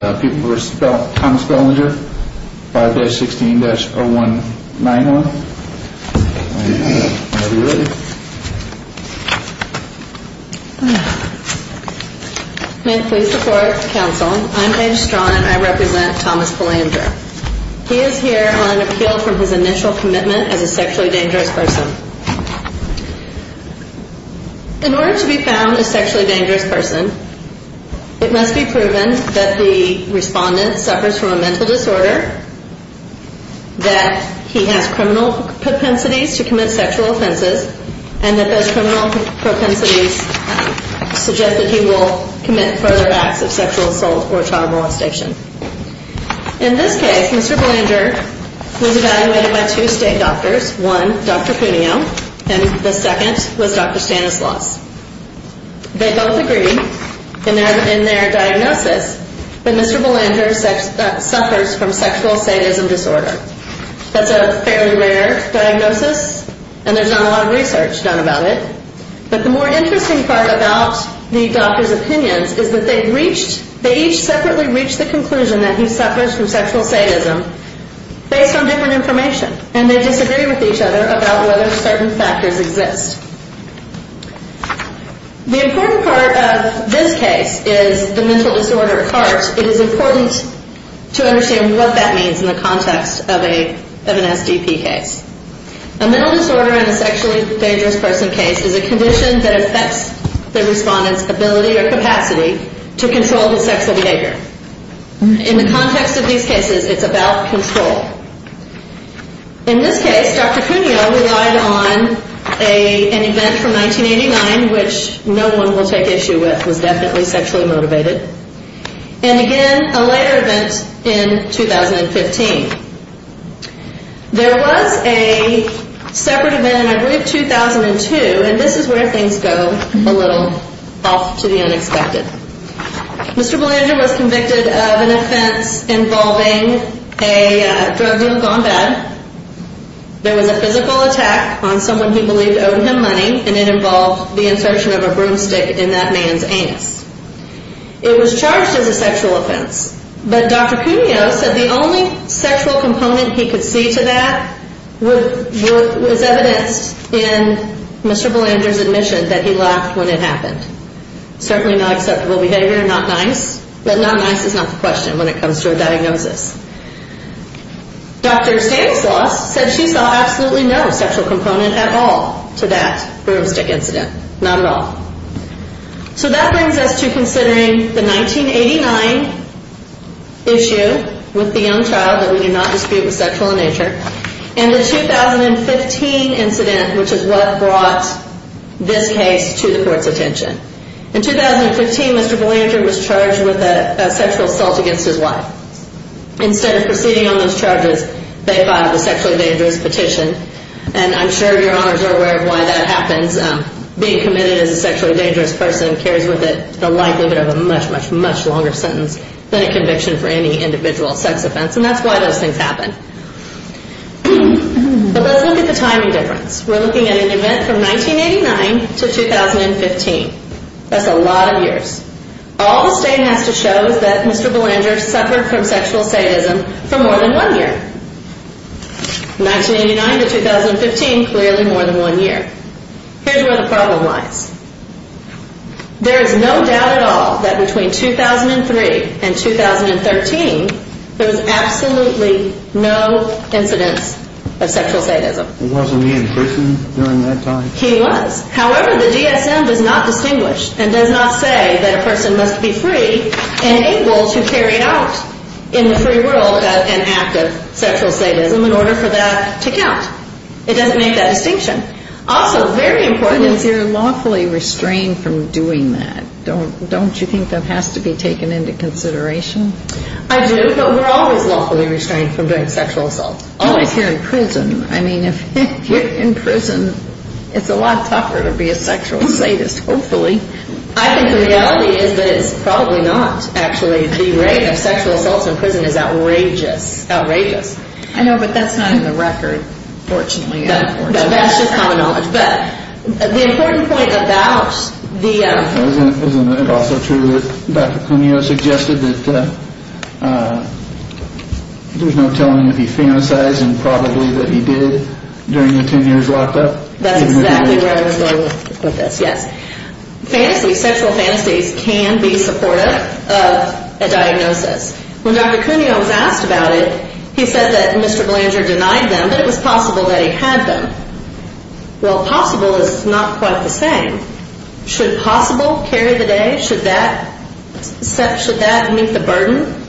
May it please the court, counsel, I'm Paige Straughn and I represent Thomas Belanger. He is here on appeal from his initial commitment as a sexually dangerous person. In order to be found a sexually dangerous person, it must be proven that the respondent suffers from a mental disorder, that he has criminal propensities to commit sexual offenses, and that those criminal propensities suggest that he will commit further acts of sexual assault or child molestation. In this case, Mr. Belanger was evaluated by two state doctors, one Dr. Cuneo and the second was Dr. Stanislas. They both agreed in their diagnosis that Mr. Belanger suffers from sexual sadism disorder. That's a fairly rare diagnosis and there's not a lot of research done about it. But the more interesting part about the doctors' opinions is that they each separately reached the conclusion that he suffers from sexual sadism based on different information. And they disagree with each other about whether certain factors exist. The important part of this case is the mental disorder at heart. It is important to understand what that means in the context of an SDP case. A mental disorder in a sexually dangerous person case is a condition that affects the respondent's ability or capacity to control his sexual behavior. In the context of these cases, it's about control. In this case, Dr. Cuneo relied on an event from 1989, which no one will take issue with, was definitely sexually motivated. And again, a later event in 2015. There was a separate event in, I believe, 2002, and this is where things go a little off to the unexpected. Mr. Belanger was convicted of an offense involving a drug deal gone bad. There was a physical attack on someone who believed owed him money, and it involved the insertion of a broomstick in that man's anus. It was charged as a sexual offense. But Dr. Cuneo said the only sexual component he could see to that was evidenced in Mr. Belanger's admission that he laughed when it happened. Certainly not acceptable behavior, not nice. But not nice is not the question when it comes to a diagnosis. Dr. Stanislaus said she saw absolutely no sexual component at all to that broomstick incident. Not at all. So that brings us to considering the 1989 issue with the young child that we did not dispute was sexual in nature, and the 2015 incident, which is what brought this case to the court's attention. In 2015, Mr. Belanger was charged with a sexual assault against his wife. Instead of proceeding on those charges, they filed a sexually dangerous petition. And I'm sure your honors are aware of why that happens. Being committed as a sexually dangerous person carries with it the likelihood of a much, much, much longer sentence than a conviction for any individual sex offense. And that's why those things happen. But let's look at the timing difference. We're looking at an event from 1989 to 2015. That's a lot of years. All the state has to show is that Mr. Belanger suffered from sexual sadism for more than one year. 1989 to 2015, clearly more than one year. Here's where the problem lies. There is no doubt at all that between 2003 and 2013, there was absolutely no incidence of sexual sadism. It wasn't he in prison during that time? He was. However, the DSM does not distinguish and does not say that a person must be free and able to carry out in the free world an act of sexual sadism in order for that to count. It doesn't make that distinction. Also, very important is... But if you're lawfully restrained from doing that, don't you think that has to be taken into consideration? I do, but we're always lawfully restrained from doing sexual assaults. Always here in prison. I mean, if you're in prison, it's a lot tougher to be a sexual sadist, hopefully. I think the reality is that it's probably not. Actually, the rate of sexual assaults in prison is outrageous. Outrageous. I know, but that's not in the record, fortunately. That's just common knowledge. But the important point about the... Isn't it also true that Dr. Cuneo suggested that there's no telling if he fantasized and probably that he did during the 10 years locked up? That's exactly where I was going with this, yes. Fantasy, sexual fantasies can be supportive of a diagnosis. When Dr. Cuneo was asked about it, he said that Mr. Blander denied them, but it was possible that he had them. Well, possible is not quite the same. Should possible carry the day? Should that meet the burden?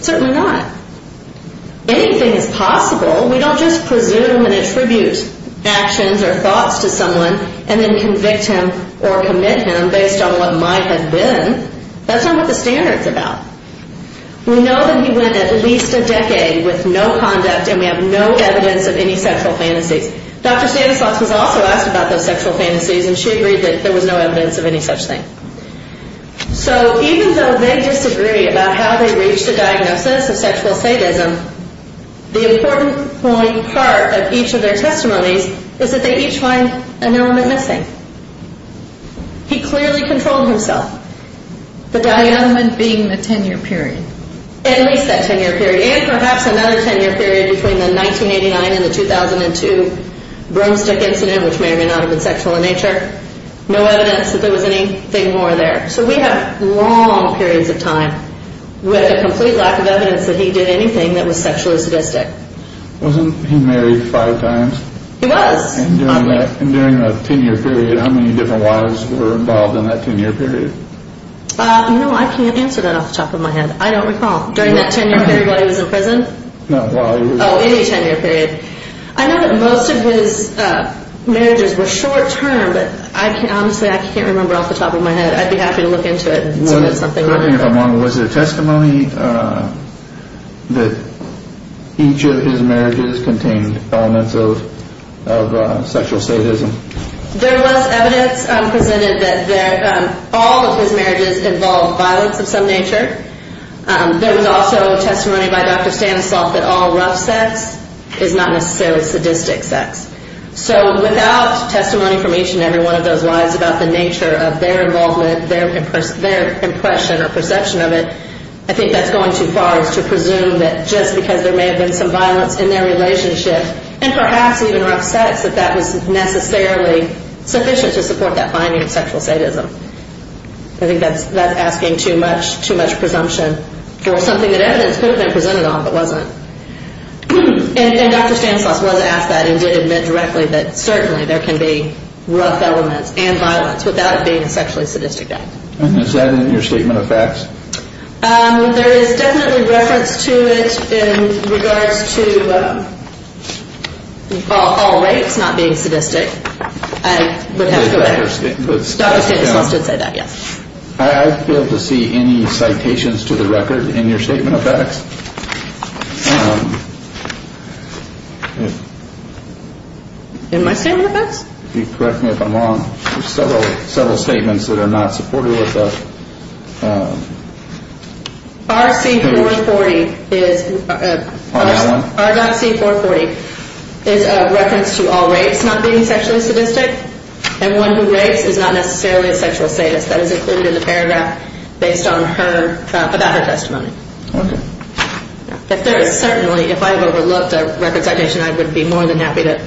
Certainly not. Anything is possible. We don't just presume and attribute actions or thoughts to someone and then convict him or commit him based on what might have been. That's not what the standard's about. We know that he went at least a decade with no conduct, and we have no evidence of any sexual fantasies. Dr. Stanislaus was also asked about those sexual fantasies, and she agreed that there was no evidence of any such thing. So even though they disagree about how they reached a diagnosis of sexual sadism, the important part of each of their testimonies is that they each find an element missing. He clearly controlled himself. The element being the 10-year period. At least that 10-year period, and perhaps another 10-year period between the 1989 and the 2002 broomstick incident, which may or may not have been sexual in nature. No evidence that there was anything more there. So we have long periods of time with a complete lack of evidence that he did anything that was sexually sadistic. Wasn't he married five times? He was. And during that 10-year period, how many different wives were involved in that 10-year period? You know, I can't answer that off the top of my head. I don't recall. During that 10-year period while he was in prison? No, while he was in prison. Oh, in a 10-year period. I know that most of his marriages were short-term, but honestly, I can't remember off the top of my head. I'd be happy to look into it and see if there's something wrong with that. Was there testimony that each of his marriages contained elements of sexual sadism? There was evidence presented that all of his marriages involved violence of some nature. There was also testimony by Dr. Stanislav that all rough sex is not necessarily sadistic sex. So without testimony from each and every one of those wives about the nature of their involvement, their impression or perception of it, I think that's going too far as to presume that just because there may have been some violence in their relationship and perhaps even rough sex that that was necessarily sufficient to support that finding of sexual sadism. I think that's asking too much presumption for something that evidence could have been presented on but wasn't. And Dr. Stanislav was asked that and did admit directly that certainly there can be rough elements and violence without it being a sexually sadistic act. And is that in your statement of facts? There is definitely reference to it in regards to all rapes not being sadistic. I would have to go back. Dr. Stanislav did say that, yes. I failed to see any citations to the record in your statement of facts. In my statement of facts? Correct me if I'm wrong. There are several statements that are not supported with us. RC440 is a reference to all rapes not being sexually sadistic. And one who rapes is not necessarily a sexual sadist. That is included in the paragraph based on her, about her testimony. Okay. But there is certainly, if I have overlooked a record citation, I would be more than happy to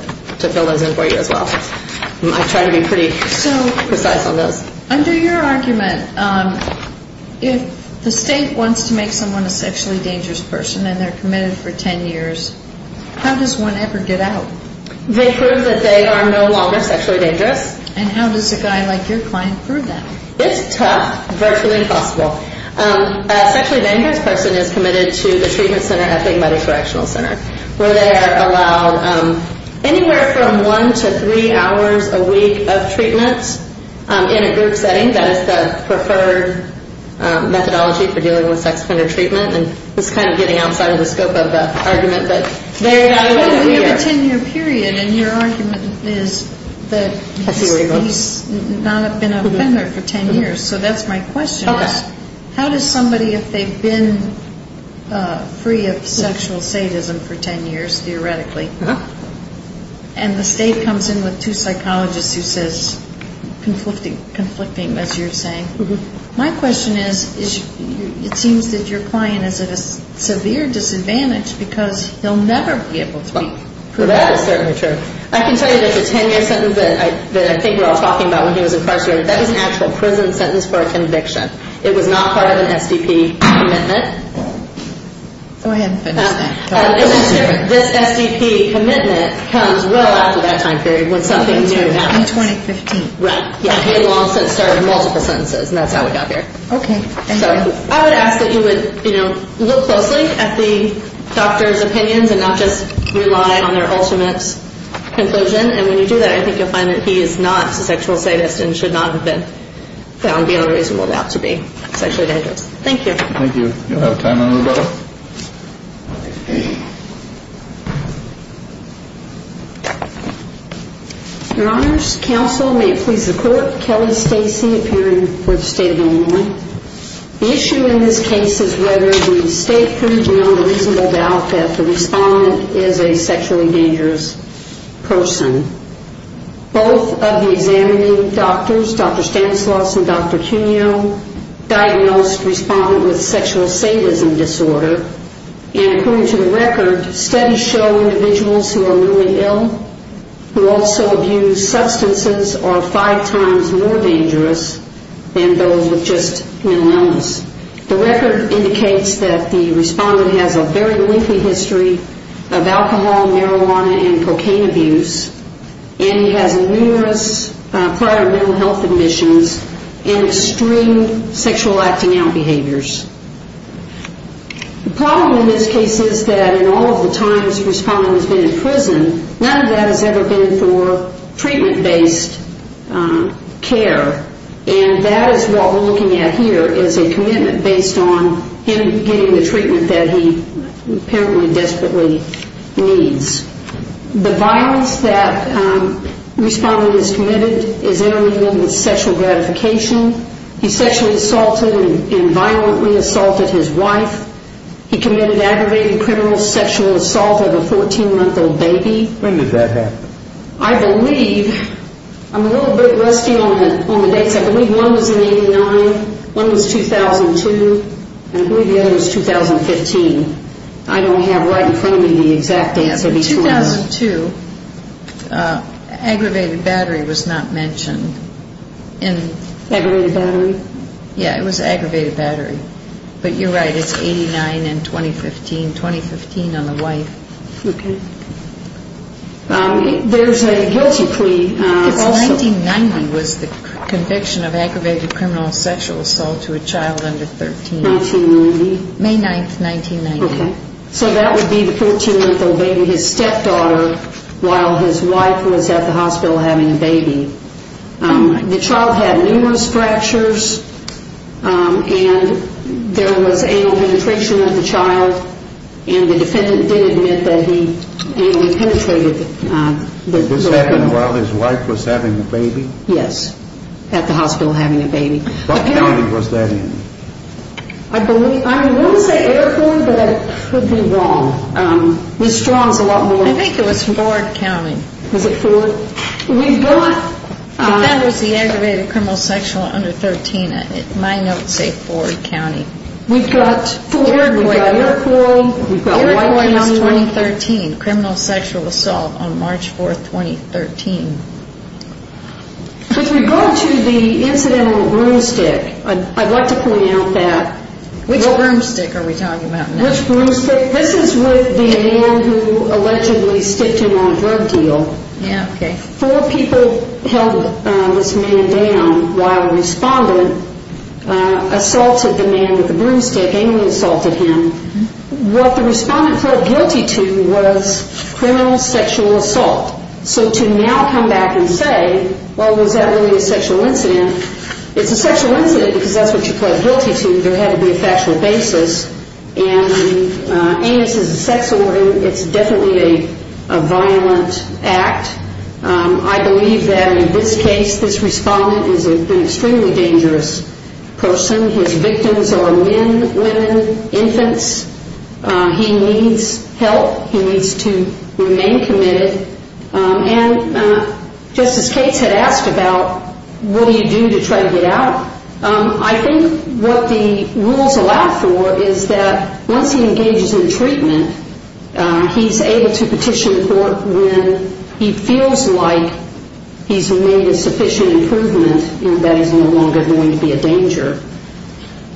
fill those in for you as well. I try to be pretty precise on those. Under your argument, if the state wants to make someone a sexually dangerous person and they're committed for 10 years, how does one ever get out? They prove that they are no longer sexually dangerous. And how does a guy like your client prove that? It's tough, virtually impossible. A sexually dangerous person is committed to the treatment center at the medical correctional center where they are allowed anywhere from one to three hours a week of treatment in a group setting. That is the preferred methodology for dealing with sex offender treatment. And this is kind of getting outside of the scope of the argument, but they are evaluated here. But we have a 10-year period, and your argument is that he's not been an offender for 10 years. So that's my question. How does somebody, if they've been free of sexual sadism for 10 years, theoretically, and the state comes in with two psychologists who says conflicting, as you're saying, my question is, it seems that your client is at a severe disadvantage because he'll never be able to be proven. That is certainly true. I can tell you that the 10-year sentence that I think we're all talking about when he was incarcerated, that was an actual prison sentence for a conviction. It was not part of an SDP commitment. Go ahead. This SDP commitment comes well after that time period when something new happens. In 2015. Right. He had long since started multiple sentences, and that's how we got here. Okay. I would ask that you would look closely at the doctor's opinions and not just rely on their ultimate conclusion. And when you do that, I think you'll find that he is not a sexual sadist and should not have been found beyond a reasonable doubt to be sexually dangerous. Thank you. Thank you. You'll have time to move on. Your Honors, Counsel, may it please the Court, Kelly Stacy, appearing for the State of Illinois. The issue in this case is whether the state proved beyond a reasonable doubt that the respondent is a sexually dangerous person. Both of the examining doctors, Dr. Stanislaus and Dr. Cuneo, diagnosed the respondent with sexual sadism disorder. And according to the record, studies show individuals who are really ill who also abuse substances are five times more dangerous than those with just mental illness. The record indicates that the respondent has a very lengthy history of alcohol, marijuana, and cocaine abuse, and he has numerous prior mental health admissions and extreme sexual acting out behaviors. The problem in this case is that in all of the times the respondent has been in prison, none of that has ever been for treatment-based care. And that is what we're looking at here is a commitment based on him getting the treatment that he apparently desperately needs. The violence that the respondent has committed is intermingled with sexual gratification. He sexually assaulted and violently assaulted his wife. He committed aggravated criminal sexual assault of a 14-month-old baby. When did that happen? I believe I'm a little bit rusty on the dates. I believe one was in 89, one was 2002, and I believe the other was 2015. I don't have right in front of me the exact answer. In 2002, aggravated battery was not mentioned. Aggravated battery? Yeah, it was aggravated battery. But you're right, it's 89 in 2015, 2015 on the wife. Okay. There's a guilty plea. 1990 was the conviction of aggravated criminal sexual assault to a child under 13. 1990? May 9, 1990. Okay. So that would be the 14-month-old baby, his stepdaughter, while his wife was at the hospital having a baby. The child had numerous fractures and there was anal penetration of the child, and the defendant did admit that he anal penetrated the baby. This happened while his wife was having a baby? Yes, at the hospital having a baby. What county was that in? I won't say Erfurt, but I could be wrong. Miss Strong's a lot more wrong. I think it was Ford County. Was it Ford? That was the aggravated criminal sexual under 13. My notes say Ford County. We've got Ford, we've got Iroquois, we've got White County. Iroquois was 2013, criminal sexual assault on March 4, 2013. If we go to the incident on the broomstick, I'd like to point out that. Which broomstick are we talking about now? Which broomstick? This is with the man who allegedly sticked him on a drug deal. Yeah, okay. Four people held this man down while a respondent assaulted the man with the broomstick and assaulted him. What the respondent pled guilty to was criminal sexual assault. So to now come back and say, well, was that really a sexual incident? It's a sexual incident because that's what you pled guilty to. There had to be a factual basis. And amnesty is a sex order. It's definitely a violent act. I believe that in this case, this respondent is an extremely dangerous person. His victims are men, women, infants. He needs help. He needs to remain committed. And Justice Cates had asked about what do you do to try to get out. I think what the rules allow for is that once he engages in treatment, he's able to petition the court when he feels like he's made a sufficient improvement that he's no longer going to be a danger.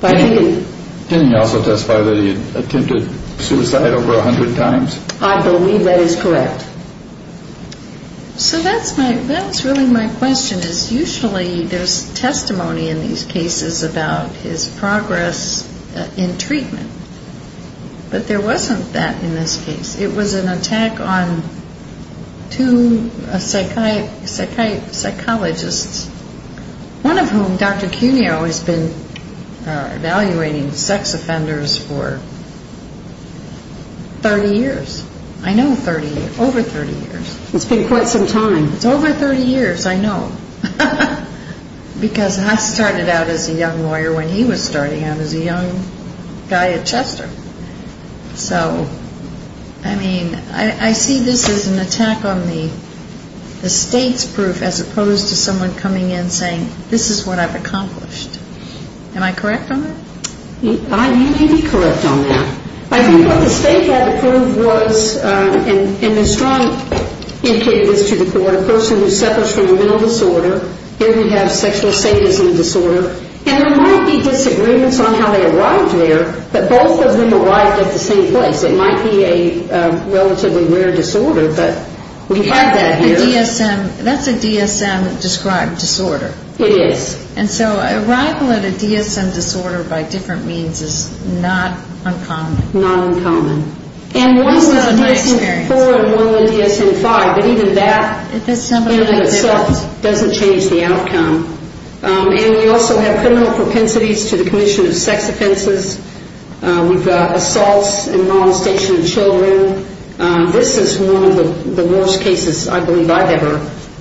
Can you also testify that he attempted suicide over 100 times? I believe that is correct. So that's really my question is usually there's testimony in these cases about his progress in treatment. But there wasn't that in this case. It was an attack on two psychologists, one of whom, Dr. Cuneo, has been evaluating sex offenders for 30 years. I know 30, over 30 years. It's been quite some time. It's over 30 years, I know. Because I started out as a young lawyer when he was starting out as a young guy at Chester. So, I mean, I see this as an attack on the state's proof as opposed to someone coming in saying this is what I've accomplished. Am I correct on that? You may be correct on that. I think what the state had to prove was, and Ms. Strong indicated this to the court, a person who suffers from a mental disorder, here we have sexual sadism disorder, and there might be disagreements on how they arrived there, but both of them arrived at the same place. It might be a relatively rare disorder, but we have that here. That's a DSM described disorder. It is. And so arrival at a DSM disorder by different means is not uncommon. And one is a DSM-IV and one is a DSM-V, but even that in and of itself doesn't change the outcome. And we also have criminal propensities to the commission of sex offenses. We've got assaults and molestation of children. This is one of the worst cases I believe I've ever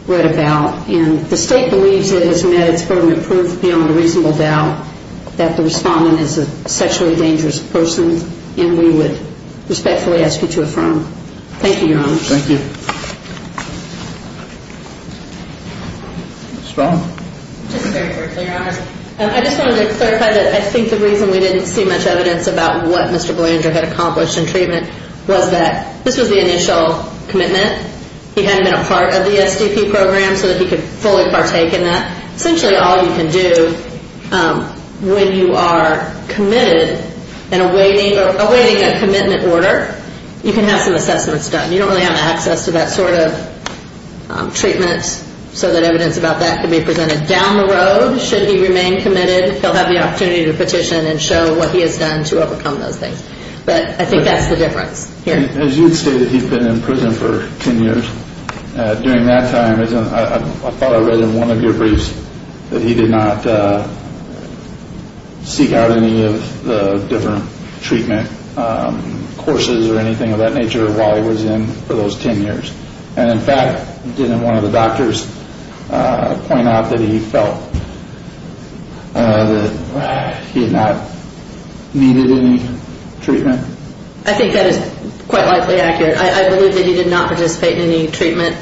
read about, and the state believes it has met its permanent proof beyond a reasonable doubt that the respondent is a sexually dangerous person, and we would respectfully ask you to affirm. Thank you, Your Honor. Thank you. Ms. Strong. Just very quickly, Your Honor. I just wanted to clarify that I think the reason we didn't see much evidence about what Mr. Blanger had accomplished in treatment was that this was the initial commitment. He hadn't been a part of the SDP program so that he could fully partake in that. Essentially all you can do when you are committed and awaiting a commitment order, you can have some assessments done. You don't really have access to that sort of treatment, so that evidence about that can be presented down the road should he remain committed. He'll have the opportunity to petition and show what he has done to overcome those things. But I think that's the difference here. As you stated, he's been in prison for 10 years. During that time, I thought I read in one of your briefs that he did not seek out any of the different treatment courses or anything of that nature while he was in for those 10 years. And, in fact, didn't one of the doctors point out that he felt that he had not needed any treatment? I think that is quite likely accurate. I believe that he did not participate in any treatment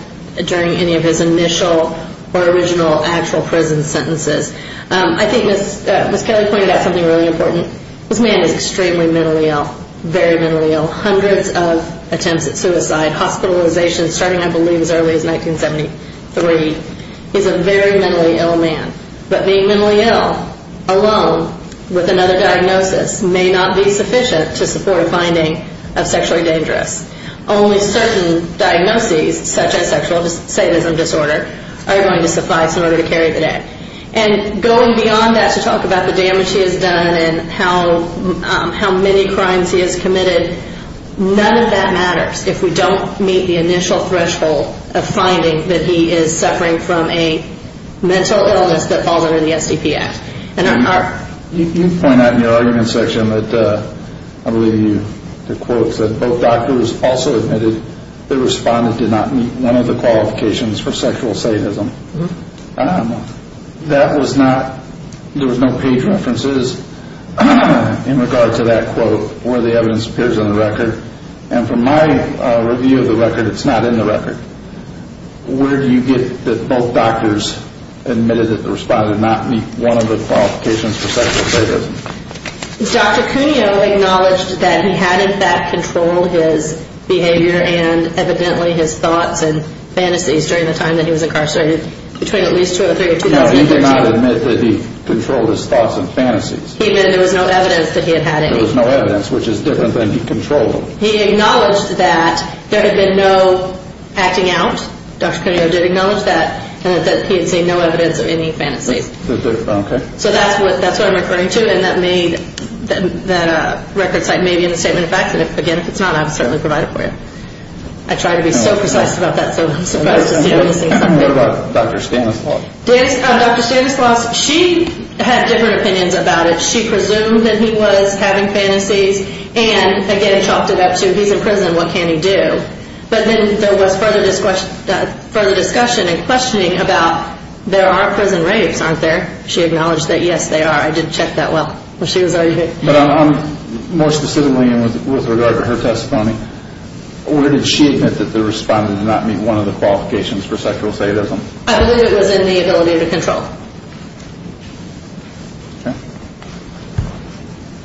during any of his initial or original actual prison sentences. I think Ms. Kelly pointed out something really important. This man is extremely mentally ill, very mentally ill. Hundreds of attempts at suicide, hospitalizations starting, I believe, as early as 1973. He's a very mentally ill man. But being mentally ill alone with another diagnosis may not be sufficient to support a finding of sexually dangerous. Only certain diagnoses, such as sexual sadism disorder, are going to suffice in order to carry the debt. And going beyond that to talk about the damage he has done and how many crimes he has committed, none of that matters if we don't meet the initial threshold of finding that he is suffering from a mental illness that falls under the SDP Act. You point out in your argument section that both doctors also admitted that the respondent did not meet one of the qualifications for sexual sadism. That was not, there was no page references in regard to that quote where the evidence appears on the record. And from my review of the record, it's not in the record. Where do you get that both doctors admitted that the respondent did not meet one of the qualifications for sexual sadism? Dr. Cuneo acknowledged that he had in fact controlled his behavior and evidently his thoughts and fantasies during the time that he was incarcerated, between at least 2003 and 2003. No, he did not admit that he controlled his thoughts and fantasies. He meant there was no evidence that he had had any. There was no evidence, which is different than he controlled them. He acknowledged that there had been no acting out. Dr. Cuneo did acknowledge that and that he had seen no evidence of any fantasies. So that's what I'm referring to. And that may, that record site may be in the statement of facts. And again, if it's not, I would certainly provide it for you. I try to be so precise about that so I'm surprised to see I'm missing something. What about Dr. Stanislaus? Dr. Stanislaus, she had different opinions about it. She presumed that he was having fantasies. And again, chopped it up to he's in prison, what can he do? But then there was further discussion and questioning about there are prison rapes, aren't there? She acknowledged that, yes, they are. I did check that well. More specifically and with regard to her testimony, where did she admit that the respondent did not meet one of the qualifications for sexual sadism? I believe it was in the ability to control.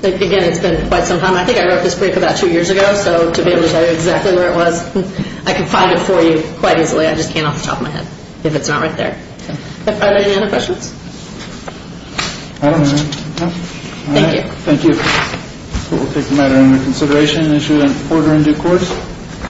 Okay. Again, it's been quite some time. I think I wrote this brief about two years ago. So to be able to tell you exactly where it was, I can find it for you quite easily. I just can't off the top of my head if it's not right there. Are there any other questions? Thank you. Thank you. We'll take the matter into consideration and issue an order in due course.